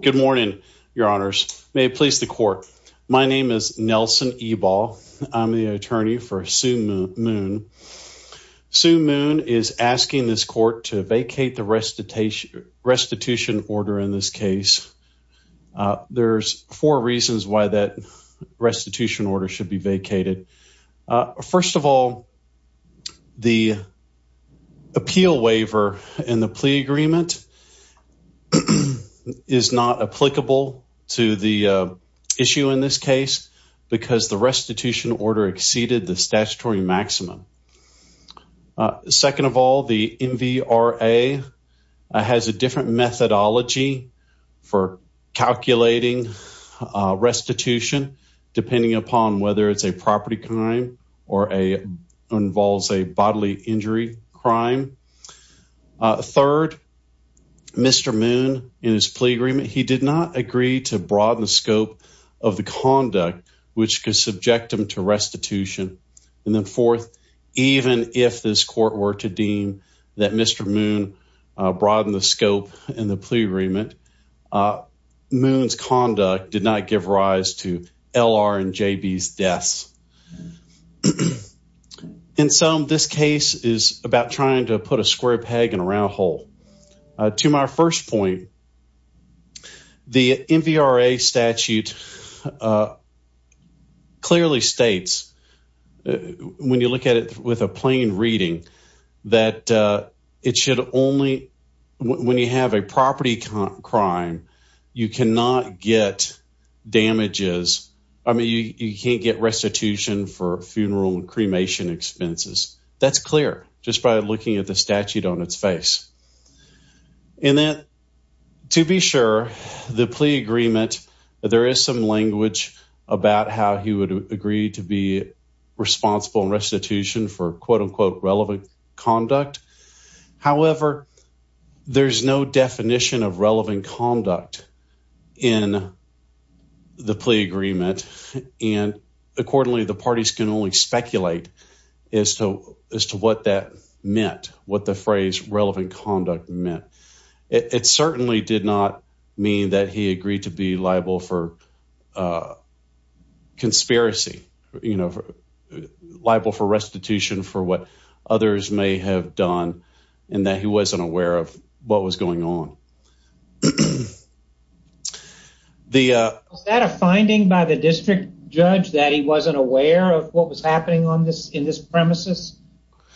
Good morning, Your Honors. May it please the court. My name is Nelson Ebal. I'm the attorney for Su Mun. Su Mun is asking this court to vacate the restitution order in this case. There's four reasons why that restitution order should be vacated. First of all, the plea agreement is not applicable to the issue in this case because the restitution order exceeded the statutory maximum. Second of all, the MVRA has a different methodology for calculating restitution depending upon whether it's a property crime or involves a bodily injury crime. Third, Mr. Mun in his plea agreement, he did not agree to broaden the scope of the conduct which could subject him to restitution. And then fourth, even if this court were to deem that Mr. Mun broadened the scope in the plea agreement, Mun's conduct did not give rise to L.R. and J.B.'s deaths. In sum, this case is about trying to put a square peg in a round hole. To my first point, the MVRA statute clearly states when you look at it with a plain reading that it should only when you have a property crime, you cannot get damages. I mean, you can't get restitution for funeral and cremation expenses. That's clear just by looking at the statute on its face. And then to be sure, the plea agreement, there is some language about how he would agree to be responsible in restitution for quote in the plea agreement. And accordingly, the parties can only speculate as to what that meant, what the phrase relevant conduct meant. It certainly did not mean that he agreed to be liable for conspiracy, liable for restitution for what others may have done and that he wasn't aware of what was going on. Was that a finding by the district judge that he wasn't aware of what was happening on this in this premises?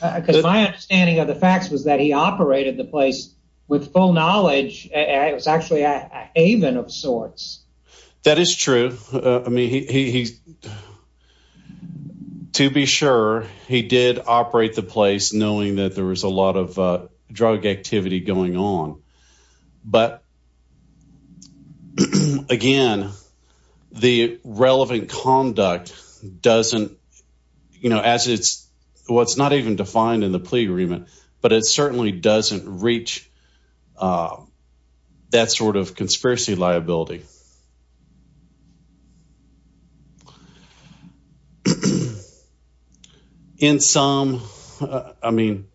Because my understanding of the facts was that he operated the place with full knowledge. It was actually a haven of sorts. That is true. I mean, he, to be sure he did operate the place knowing that there was a lot of drug activity going on. But again, the relevant conduct doesn't, you know, as it's what's not even defined in the plea agreement, but it certainly doesn't reach that sort of conspiracy liability. In some, I mean,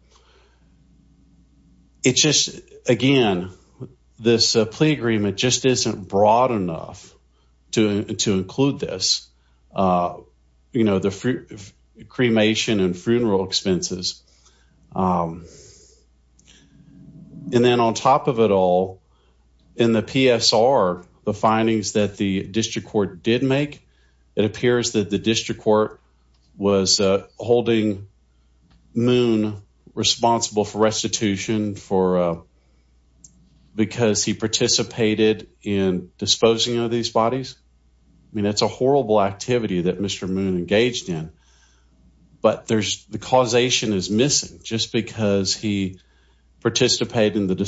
it's just, again, this plea agreement just isn't broad enough to include this, you know, the cremation and funeral expenses. And then on top of it all, in the PSR, the findings that the district court did make, it appears that the district court was holding Moon responsible for restitution for, because he participated in disposing of these bodies. I mean, that's a horrible activity that Mr. Moon engaged in, but there's the causation is missing just because he participated in the In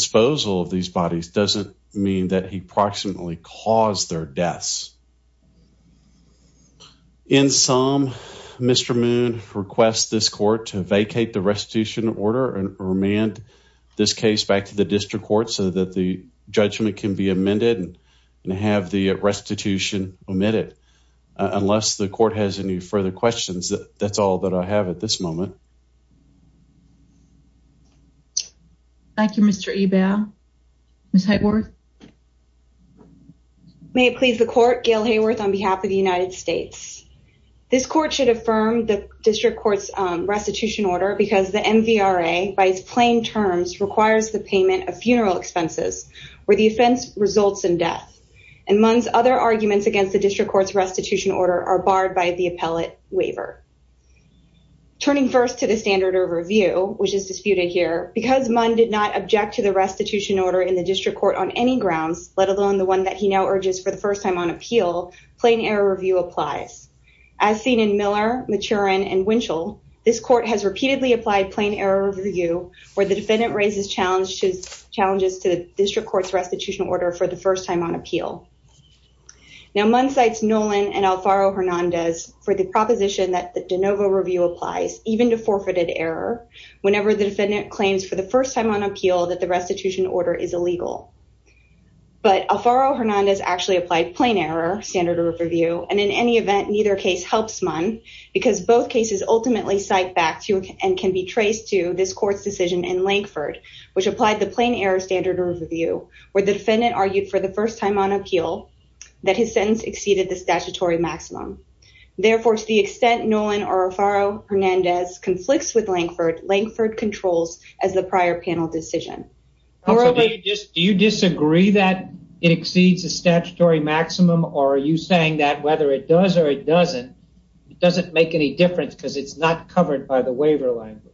sum, Mr. Moon requests this court to vacate the restitution order and remand this case back to the district court so that the judgment can be amended and have the restitution omitted. Unless the court has any further questions, that's all that I have at this moment. Thank you, Mr. Ebell. Ms. Hayworth. May it please the court, Gail Hayworth on behalf of the United States. This court should affirm the district court's restitution order because the MVRA by its plain terms requires the payment of funeral expenses where the offense results in death. And Moon's other arguments against the district court's restitution order are barred by the appellate waiver. Turning first to the standard of review, which is disputed here, because Moon did not the restitution order in the district court on any grounds, let alone the one that he now urges for the first time on appeal, plain error review applies. As seen in Miller, Maturin, and Winchell, this court has repeatedly applied plain error review where the defendant raises challenges to the district court's restitution order for the first time on appeal. Now, Moon cites Nolan and Alfaro Hernandez for the proposition that the de novo review applies even to forfeited error whenever the defendant claims for the first time on appeal that the restitution order is illegal. But Alfaro Hernandez actually applied plain error standard of review. And in any event, neither case helps Moon because both cases ultimately cite back to and can be traced to this court's decision in Lankford, which applied the plain error standard of review, where the defendant argued for the first time on appeal that his sentence exceeded the statutory maximum. Therefore, to the extent Nolan or Alfaro Hernandez conflicts with Lankford, Lankford controls as the prior panel decision. Do you disagree that it exceeds the statutory maximum? Or are you saying that whether it does or it doesn't, it doesn't make any difference because it's not covered by the waiver language?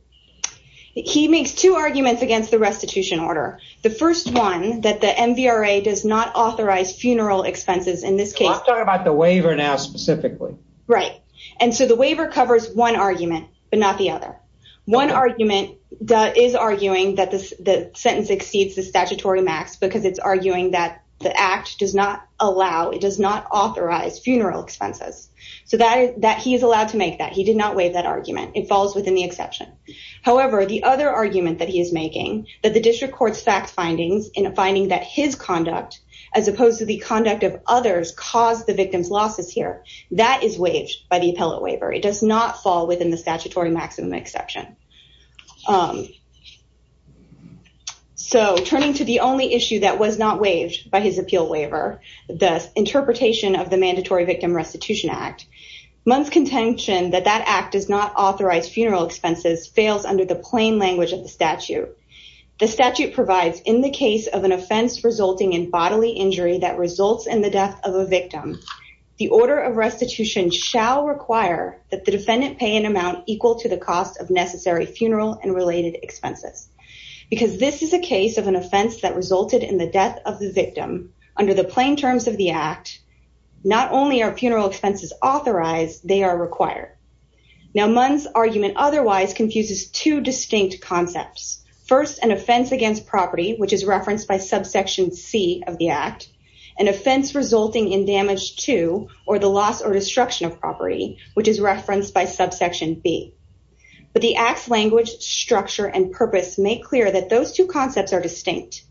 He makes two arguments against the restitution order. The first one that the MVRA does not authorize funeral expenses in this case. I'm talking about the waiver now specifically. Right. And so the waiver covers one argument, but not the other. One argument that is arguing that the sentence exceeds the statutory max because it's arguing that the act does not allow, it does not authorize funeral expenses. So that he is allowed to make that. He did not waive that argument. It falls within the exception. However, the other argument that he is making that the district court's fact findings in finding that his conduct as opposed to the conduct of others caused the victim's losses here, that is waived by the appellate waiver. It does not fall within the statutory maximum exception. So turning to the only issue that was not waived by his appeal waiver, the interpretation of the Mandatory Victim Restitution Act, Munn's contention that that act does not authorize funeral expenses fails under the plain language of the statute. The statute provides in the case of an offense resulting in bodily injury that results in the death of a victim, the order of restitution shall require that the defendant pay an amount equal to the cost of necessary funeral and related expenses. Because this is a case of an offense that resulted in the death of the victim under the plain terms of the act, not only are funeral expenses authorized, they are required. Now Munn's argument otherwise confuses two distinct concepts. First, an offense against property, which is referenced by subsection C of the act, an offense resulting in damage to or the loss or destruction of property, which is referenced by subsection B. But the act's language, structure, and purpose make clear that those two concepts are distinct.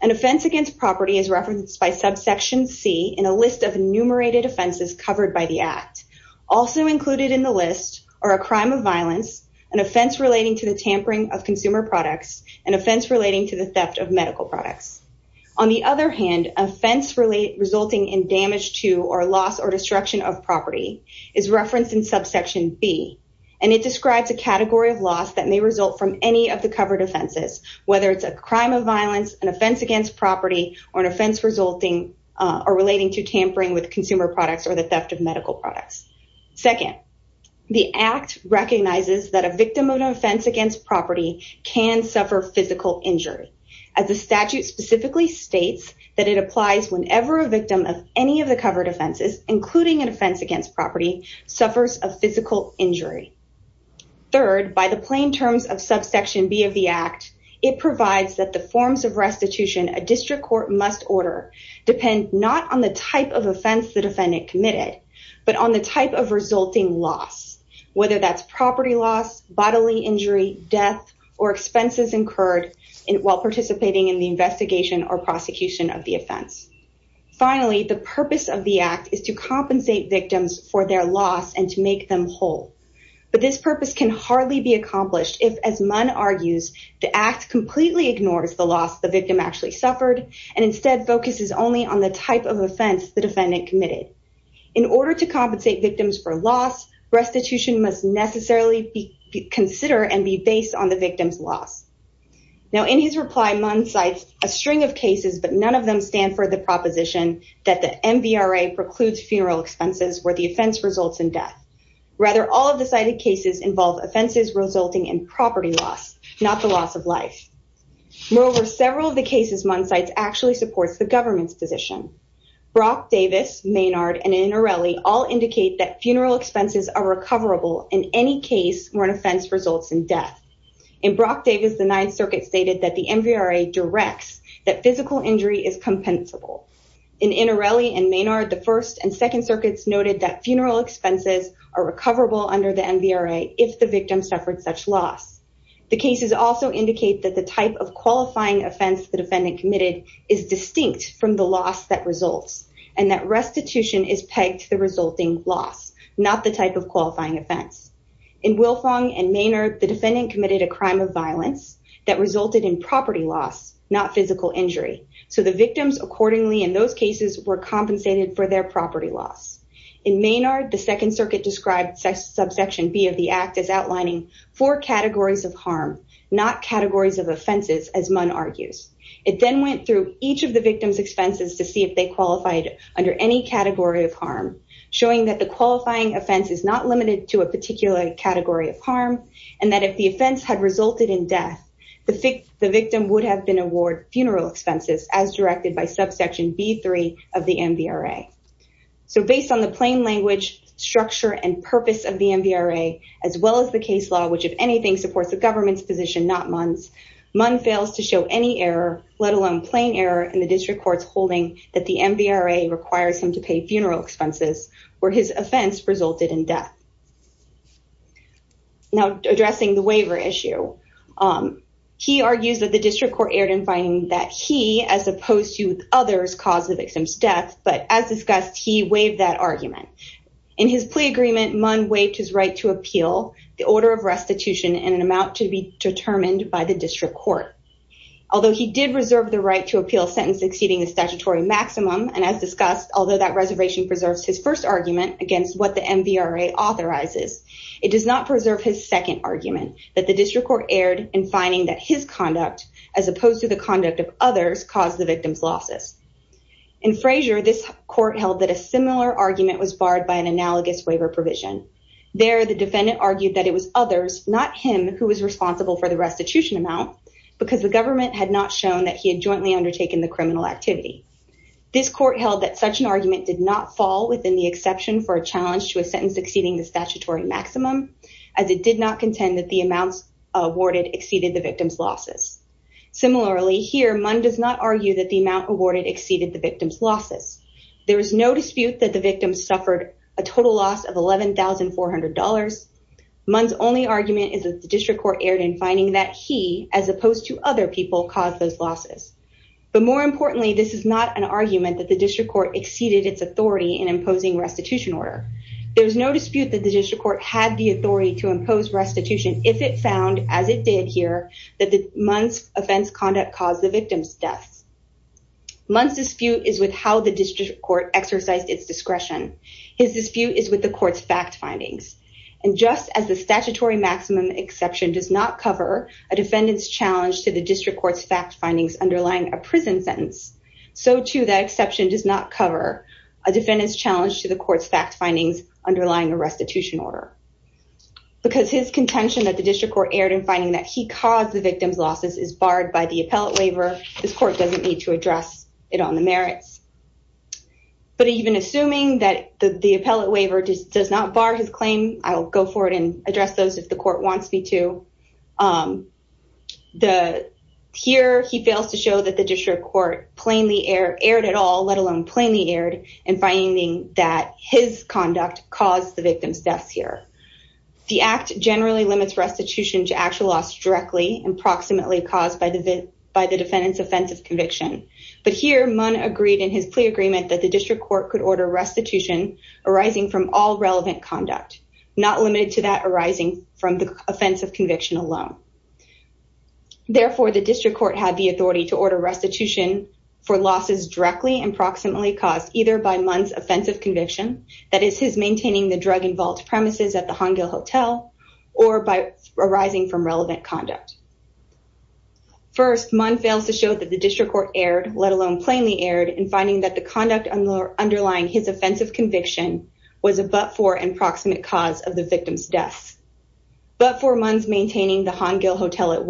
An offense against property is referenced by subsection C in a list of enumerated offenses covered by the act. Also included in the list are a crime of violence, an offense relating to the tampering of consumer products, and offense relating to the theft of medical products. On the other hand, offense resulting in damage to or loss or destruction of property is referenced in subsection B, and it describes a category of loss that may result from any of the covered offenses, whether it's a crime of violence, an offense against property, or an offense resulting or relating to tampering with consumer products or the theft of medical products. Second, the act recognizes that a victim of an offense against property can suffer physical injury, as the statute specifically states that it applies whenever a victim of any of the covered offenses, including an offense against property, suffers a physical injury. Third, by the plain terms of subsection B of the act, it provides that the forms of restitution a district court must order depend not on the type of offense the defendant committed, but on the type of resulting loss, whether that's property loss, bodily injury, death, or expenses incurred while participating in the investigation or prosecution of the offense. Finally, the purpose of the act is to compensate victims for their loss and to make them whole, but this purpose can hardly be accomplished if, as Munn argues, the act completely ignores the victim actually suffered and instead focuses only on the type of offense the defendant committed. In order to compensate victims for loss, restitution must necessarily be considered and be based on the victim's loss. Now, in his reply, Munn cites a string of cases, but none of them stand for the proposition that the MVRA precludes funeral expenses where the offense results in death. Rather, all of the cited cases involve offenses resulting in property loss, not the loss of life. Moreover, several of the cases Munn cites actually supports the government's position. Brock Davis, Maynard, and Innarelli all indicate that funeral expenses are recoverable in any case where an offense results in death. In Brock Davis, the Ninth Circuit stated that the MVRA directs that physical injury is compensable. In Innarelli and Maynard, the First and Second Circuits noted that funeral expenses are recoverable under the MVRA if the also indicate that the type of qualifying offense the defendant committed is distinct from the loss that results and that restitution is pegged to the resulting loss, not the type of qualifying offense. In Wilfong and Maynard, the defendant committed a crime of violence that resulted in property loss, not physical injury. So, the victims accordingly in those cases were compensated for their property loss. In Maynard, the Second Circuit described subsection B of the act as outlining four not categories of offenses, as Munn argues. It then went through each of the victim's expenses to see if they qualified under any category of harm, showing that the qualifying offense is not limited to a particular category of harm and that if the offense had resulted in death, the victim would have been award funeral expenses as directed by subsection B3 of the MVRA. So, based on the plain language, structure, and purpose of the MVRA, as well as the case law, which, if anything, supports the government's position, not Munn's, Munn fails to show any error, let alone plain error, in the district court's holding that the MVRA requires him to pay funeral expenses where his offense resulted in death. Now, addressing the waiver issue, he argues that the district court erred in finding that he, as opposed to others, caused the victim's death, but as discussed, he waived that argument. In his plea agreement, Munn waived his right to appeal the order of restitution in an amount to be determined by the district court. Although he did reserve the right to appeal sentence exceeding the statutory maximum, and as discussed, although that reservation preserves his first argument against what the MVRA authorizes, it does not preserve his second argument, that the district court erred in finding that his conduct, as opposed to the conduct of others, caused the victim's losses. In Frazier, this court held that a similar argument was barred by an analogous waiver provision. There, the defendant argued that it was others, not him, who was responsible for the restitution amount, because the government had not shown that he had jointly undertaken the criminal activity. This court held that such an argument did not fall within the exception for a challenge to a sentence exceeding the statutory maximum, as it did not contend that the amounts awarded exceeded the victim's losses. There is no dispute that the victim suffered a total loss of $11,400. Munn's only argument is that the district court erred in finding that he, as opposed to other people, caused those losses. But more importantly, this is not an argument that the district court exceeded its authority in imposing restitution order. There is no dispute that the district court had the authority to impose restitution if it found, as it did here, that Munn's offense caused the victim's death. Munn's dispute is with how the district court exercised its discretion. His dispute is with the court's fact findings. And just as the statutory maximum exception does not cover a defendant's challenge to the district court's fact findings underlying a prison sentence, so, too, that exception does not cover a defendant's challenge to the court's fact findings underlying a restitution order. Because his contention that the district court erred in finding that he caused the victim's losses is barred by the appellate waiver, this court doesn't need to address it on the merits. But even assuming that the appellate waiver does not bar his claim, I'll go forward and address those if the court wants me to. Here, he fails to show that the district court plainly erred at all, let alone plainly erred, in finding that his conduct caused the victim's deaths here. The Act generally limits restitution to actual loss directly and proximately caused by the defendant's offense of conviction. But here, Munn agreed in his plea agreement that the district court could order restitution arising from all relevant conduct, not limited to that arising from the offense of conviction alone. Therefore, the district court had the authority to order restitution for losses directly and by Munn's offense of conviction, that is, his maintaining the drug and vault premises at the Han Gil Hotel, or by arising from relevant conduct. First, Munn fails to show that the district court erred, let alone plainly erred, in finding that the conduct underlying his offense of conviction was a but-for and proximate cause of the victim's death. But for Munn's maintaining the Han Gil Hotel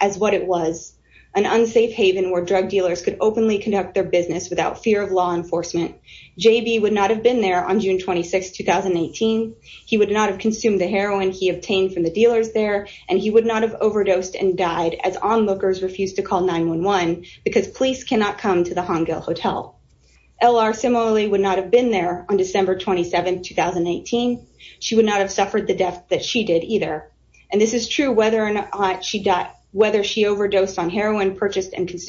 as what it was, an unsafe haven where drug dealers could openly conduct their business without fear of law enforcement. J.B. would not have been there on June 26, 2018. He would not have consumed the heroin he obtained from the dealers there, and he would not have overdosed and died as onlookers refused to call 911 because police cannot come to the Han Gil Hotel. L.R. similarly would not have been there on December 27, 2018. She would not have suffered the death that she did either. And this is true whether she overdosed on heroin purchased and was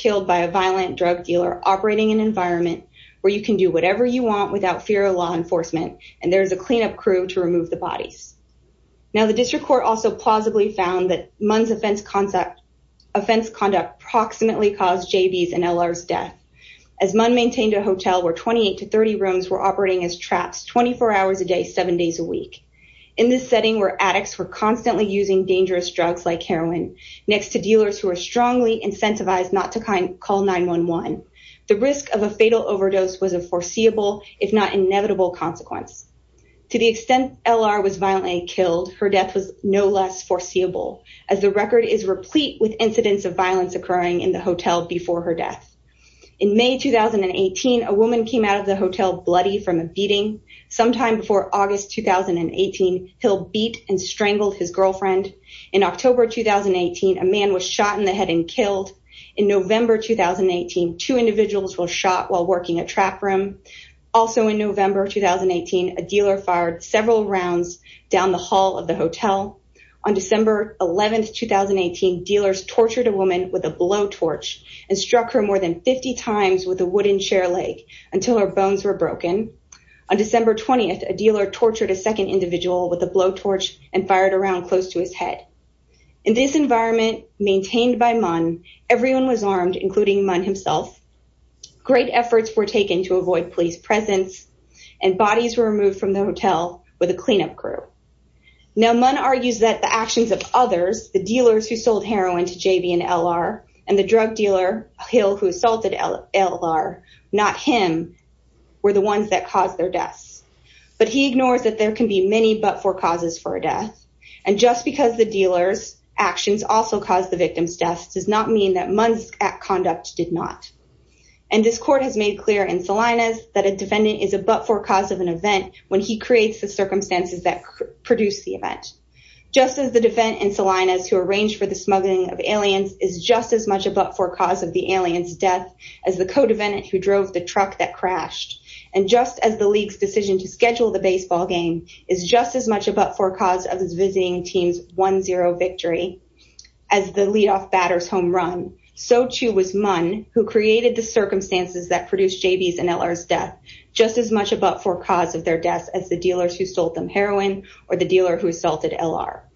killed by a violent drug dealer operating an environment where you can do whatever you want without fear of law enforcement, and there's a cleanup crew to remove the bodies. Now, the district court also plausibly found that Munn's offense conduct approximately caused J.B.'s and L.R.'s death as Munn maintained a hotel where 28 to 30 rooms were operating as traps 24 hours a day, seven days a week. In this setting where addicts were constantly using dangerous drugs like heroin, next to dealers who were strongly incentivized not to call 911, the risk of a fatal overdose was a foreseeable if not inevitable consequence. To the extent L.R. was violently killed, her death was no less foreseeable as the record is replete with incidents of violence occurring in the hotel before her death. In May 2018, a woman came out of the hotel bloody from a beating. Sometime before August 2018, he'll beat and strangled his girlfriend. In October 2018, a man was shot in the head and killed. In November 2018, two individuals were shot while working a trap room. Also in November 2018, a dealer fired several rounds down the hall of the hotel. On December 11, 2018, dealers tortured a woman with a blowtorch and struck her more than 50 times with a wooden chair leg until her bones were broken. On December 20, a dealer tortured a second individual with a blowtorch and fired a round close to his head. In this environment maintained by Munn, everyone was armed including Munn himself. Great efforts were taken to avoid police presence and bodies were removed from the hotel with a cleanup crew. Now Munn argues that the actions of others, the dealers who sold heroin to J.B. and L.R. and the drug dealer Hill who assaulted L.R., not him, were the ones that caused their deaths. But he ignores that there can be many but-for causes for a death and just because the dealer's actions also caused the victim's death does not mean that Munn's conduct did not. And this court has made clear in Salinas that a defendant is a but-for cause of an event when he creates the circumstances that produce the event. Just as the defendant in Salinas who arranged for the aliens is just as much a but-for cause of the aliens death as the co-defendant who drove the truck that crashed and just as the league's decision to schedule the baseball game is just as much a but-for cause of his visiting team's 1-0 victory as the leadoff batter's home run, so too was Munn who created the circumstances that produced J.B.'s and L.R.'s death just as much a but-for cause of their deaths as the dealers who sold them heroin or the dealer who assaulted L.R.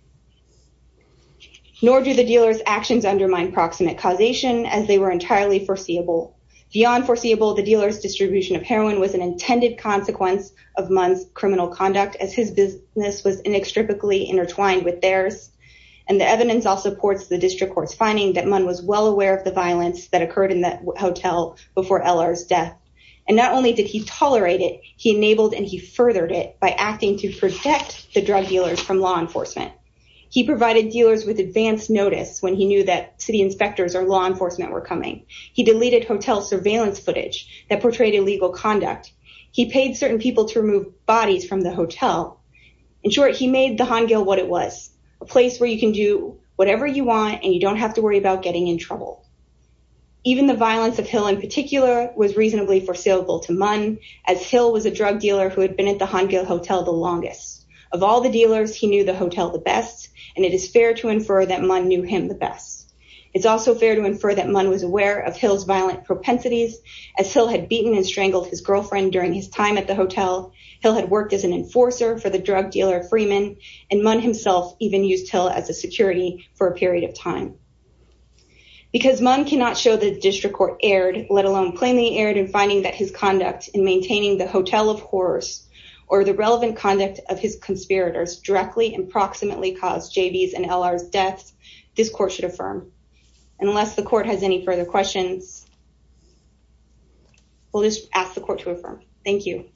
Nor do the dealer's actions undermine proximate causation as they were entirely foreseeable. Beyond foreseeable, the dealer's distribution of heroin was an intended consequence of Munn's criminal conduct as his business was inextricably intertwined with theirs. And the evidence also supports the district court's finding that Munn was well aware of the violence that occurred in the hotel before L.R.'s death. And not only did he tolerate it, he enabled and he furthered it by to protect the drug dealers from law enforcement. He provided dealers with advance notice when he knew that city inspectors or law enforcement were coming. He deleted hotel surveillance footage that portrayed illegal conduct. He paid certain people to remove bodies from the hotel. In short, he made the Han Gill what it was, a place where you can do whatever you want and you don't have to worry about getting in trouble. Even the violence of Hill in particular was reasonably foreseeable to Munn as Hill was a drug dealer who had been at the Han Gill hotel the longest. Of all the dealers, he knew the hotel the best and it is fair to infer that Munn knew him the best. It's also fair to infer that Munn was aware of Hill's violent propensities as Hill had beaten and strangled his girlfriend during his time at the hotel. Hill had worked as an enforcer for the drug dealer Freeman and Munn himself even used Hill as a security for a period of time. Because Munn cannot show that the district court erred, let alone plainly erred in finding that his conduct in maintaining the hotel of horrors or the relevant conduct of his conspirators directly and proximately caused JV's and LR's deaths, this court should affirm. Unless the court has any further questions, we'll just ask the court to affirm. Thank you.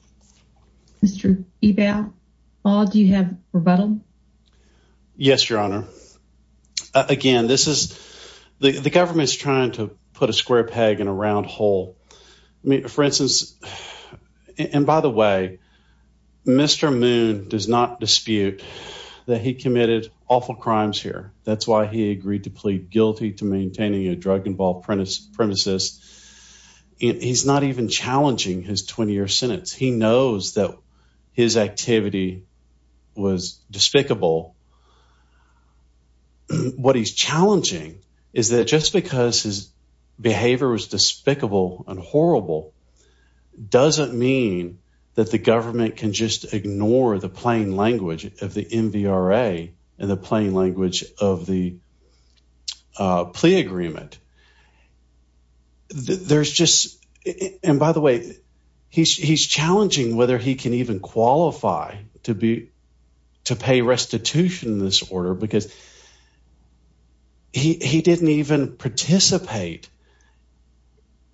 Mr. Ebel, do you have a rebuttal? Yes, your honor. Again, the government is trying to put a square peg in a round hole. For instance, and by the way, Mr. Munn does not dispute that he committed awful crimes here. That's why he agreed to plead guilty to maintaining a drug premises. He's not even challenging his 20 year sentence. He knows that his activity was despicable. What he's challenging is that just because his behavior was despicable and horrible doesn't mean that the government can just ignore the plain language of the MVRA and the plain language of the plea agreement. There's just, and by the way, he's challenging whether he can even qualify to pay restitution in this order because he didn't even participate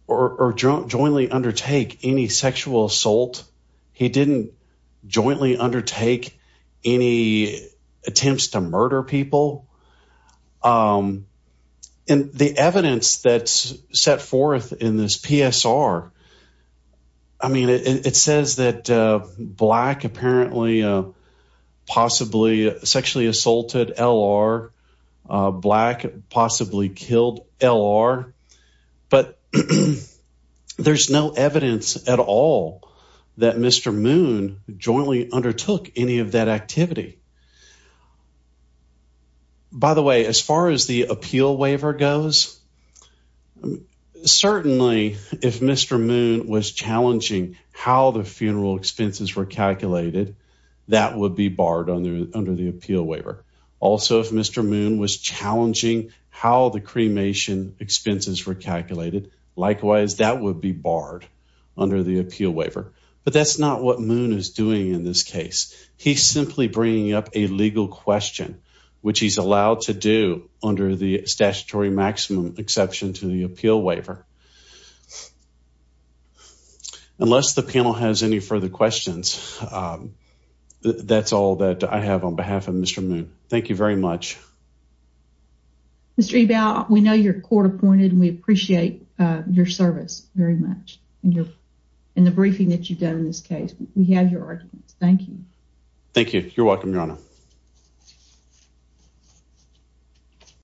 or jointly undertake any sexual assault. He didn't jointly undertake any attempts to murder people. And the evidence that's set forth in this PSR, I mean, it says that black apparently possibly sexually assaulted L.R., black possibly killed L.R., but there's no evidence at all that Mr. Munn jointly undertook any of that activity. By the way, as far as the appeal waiver goes, I mean, certainly if Mr. Munn was challenging how the funeral expenses were calculated, that would be barred under the appeal waiver. Also, if Mr. Munn was challenging how the cremation expenses were calculated, likewise, that would be barred under the appeal waiver. But that's not what Munn is doing in this case. He's simply bringing up a legal question, which he's allowed to do under the statutory maximum exception to the appeal waiver. Unless the panel has any further questions, that's all that I have on behalf of Mr. Munn. Thank you very much. Mr. Ebel, we know you're court appointed and we appreciate your service very much and the briefing that you've given. Thank you. Thank you. You're welcome, Your Honor.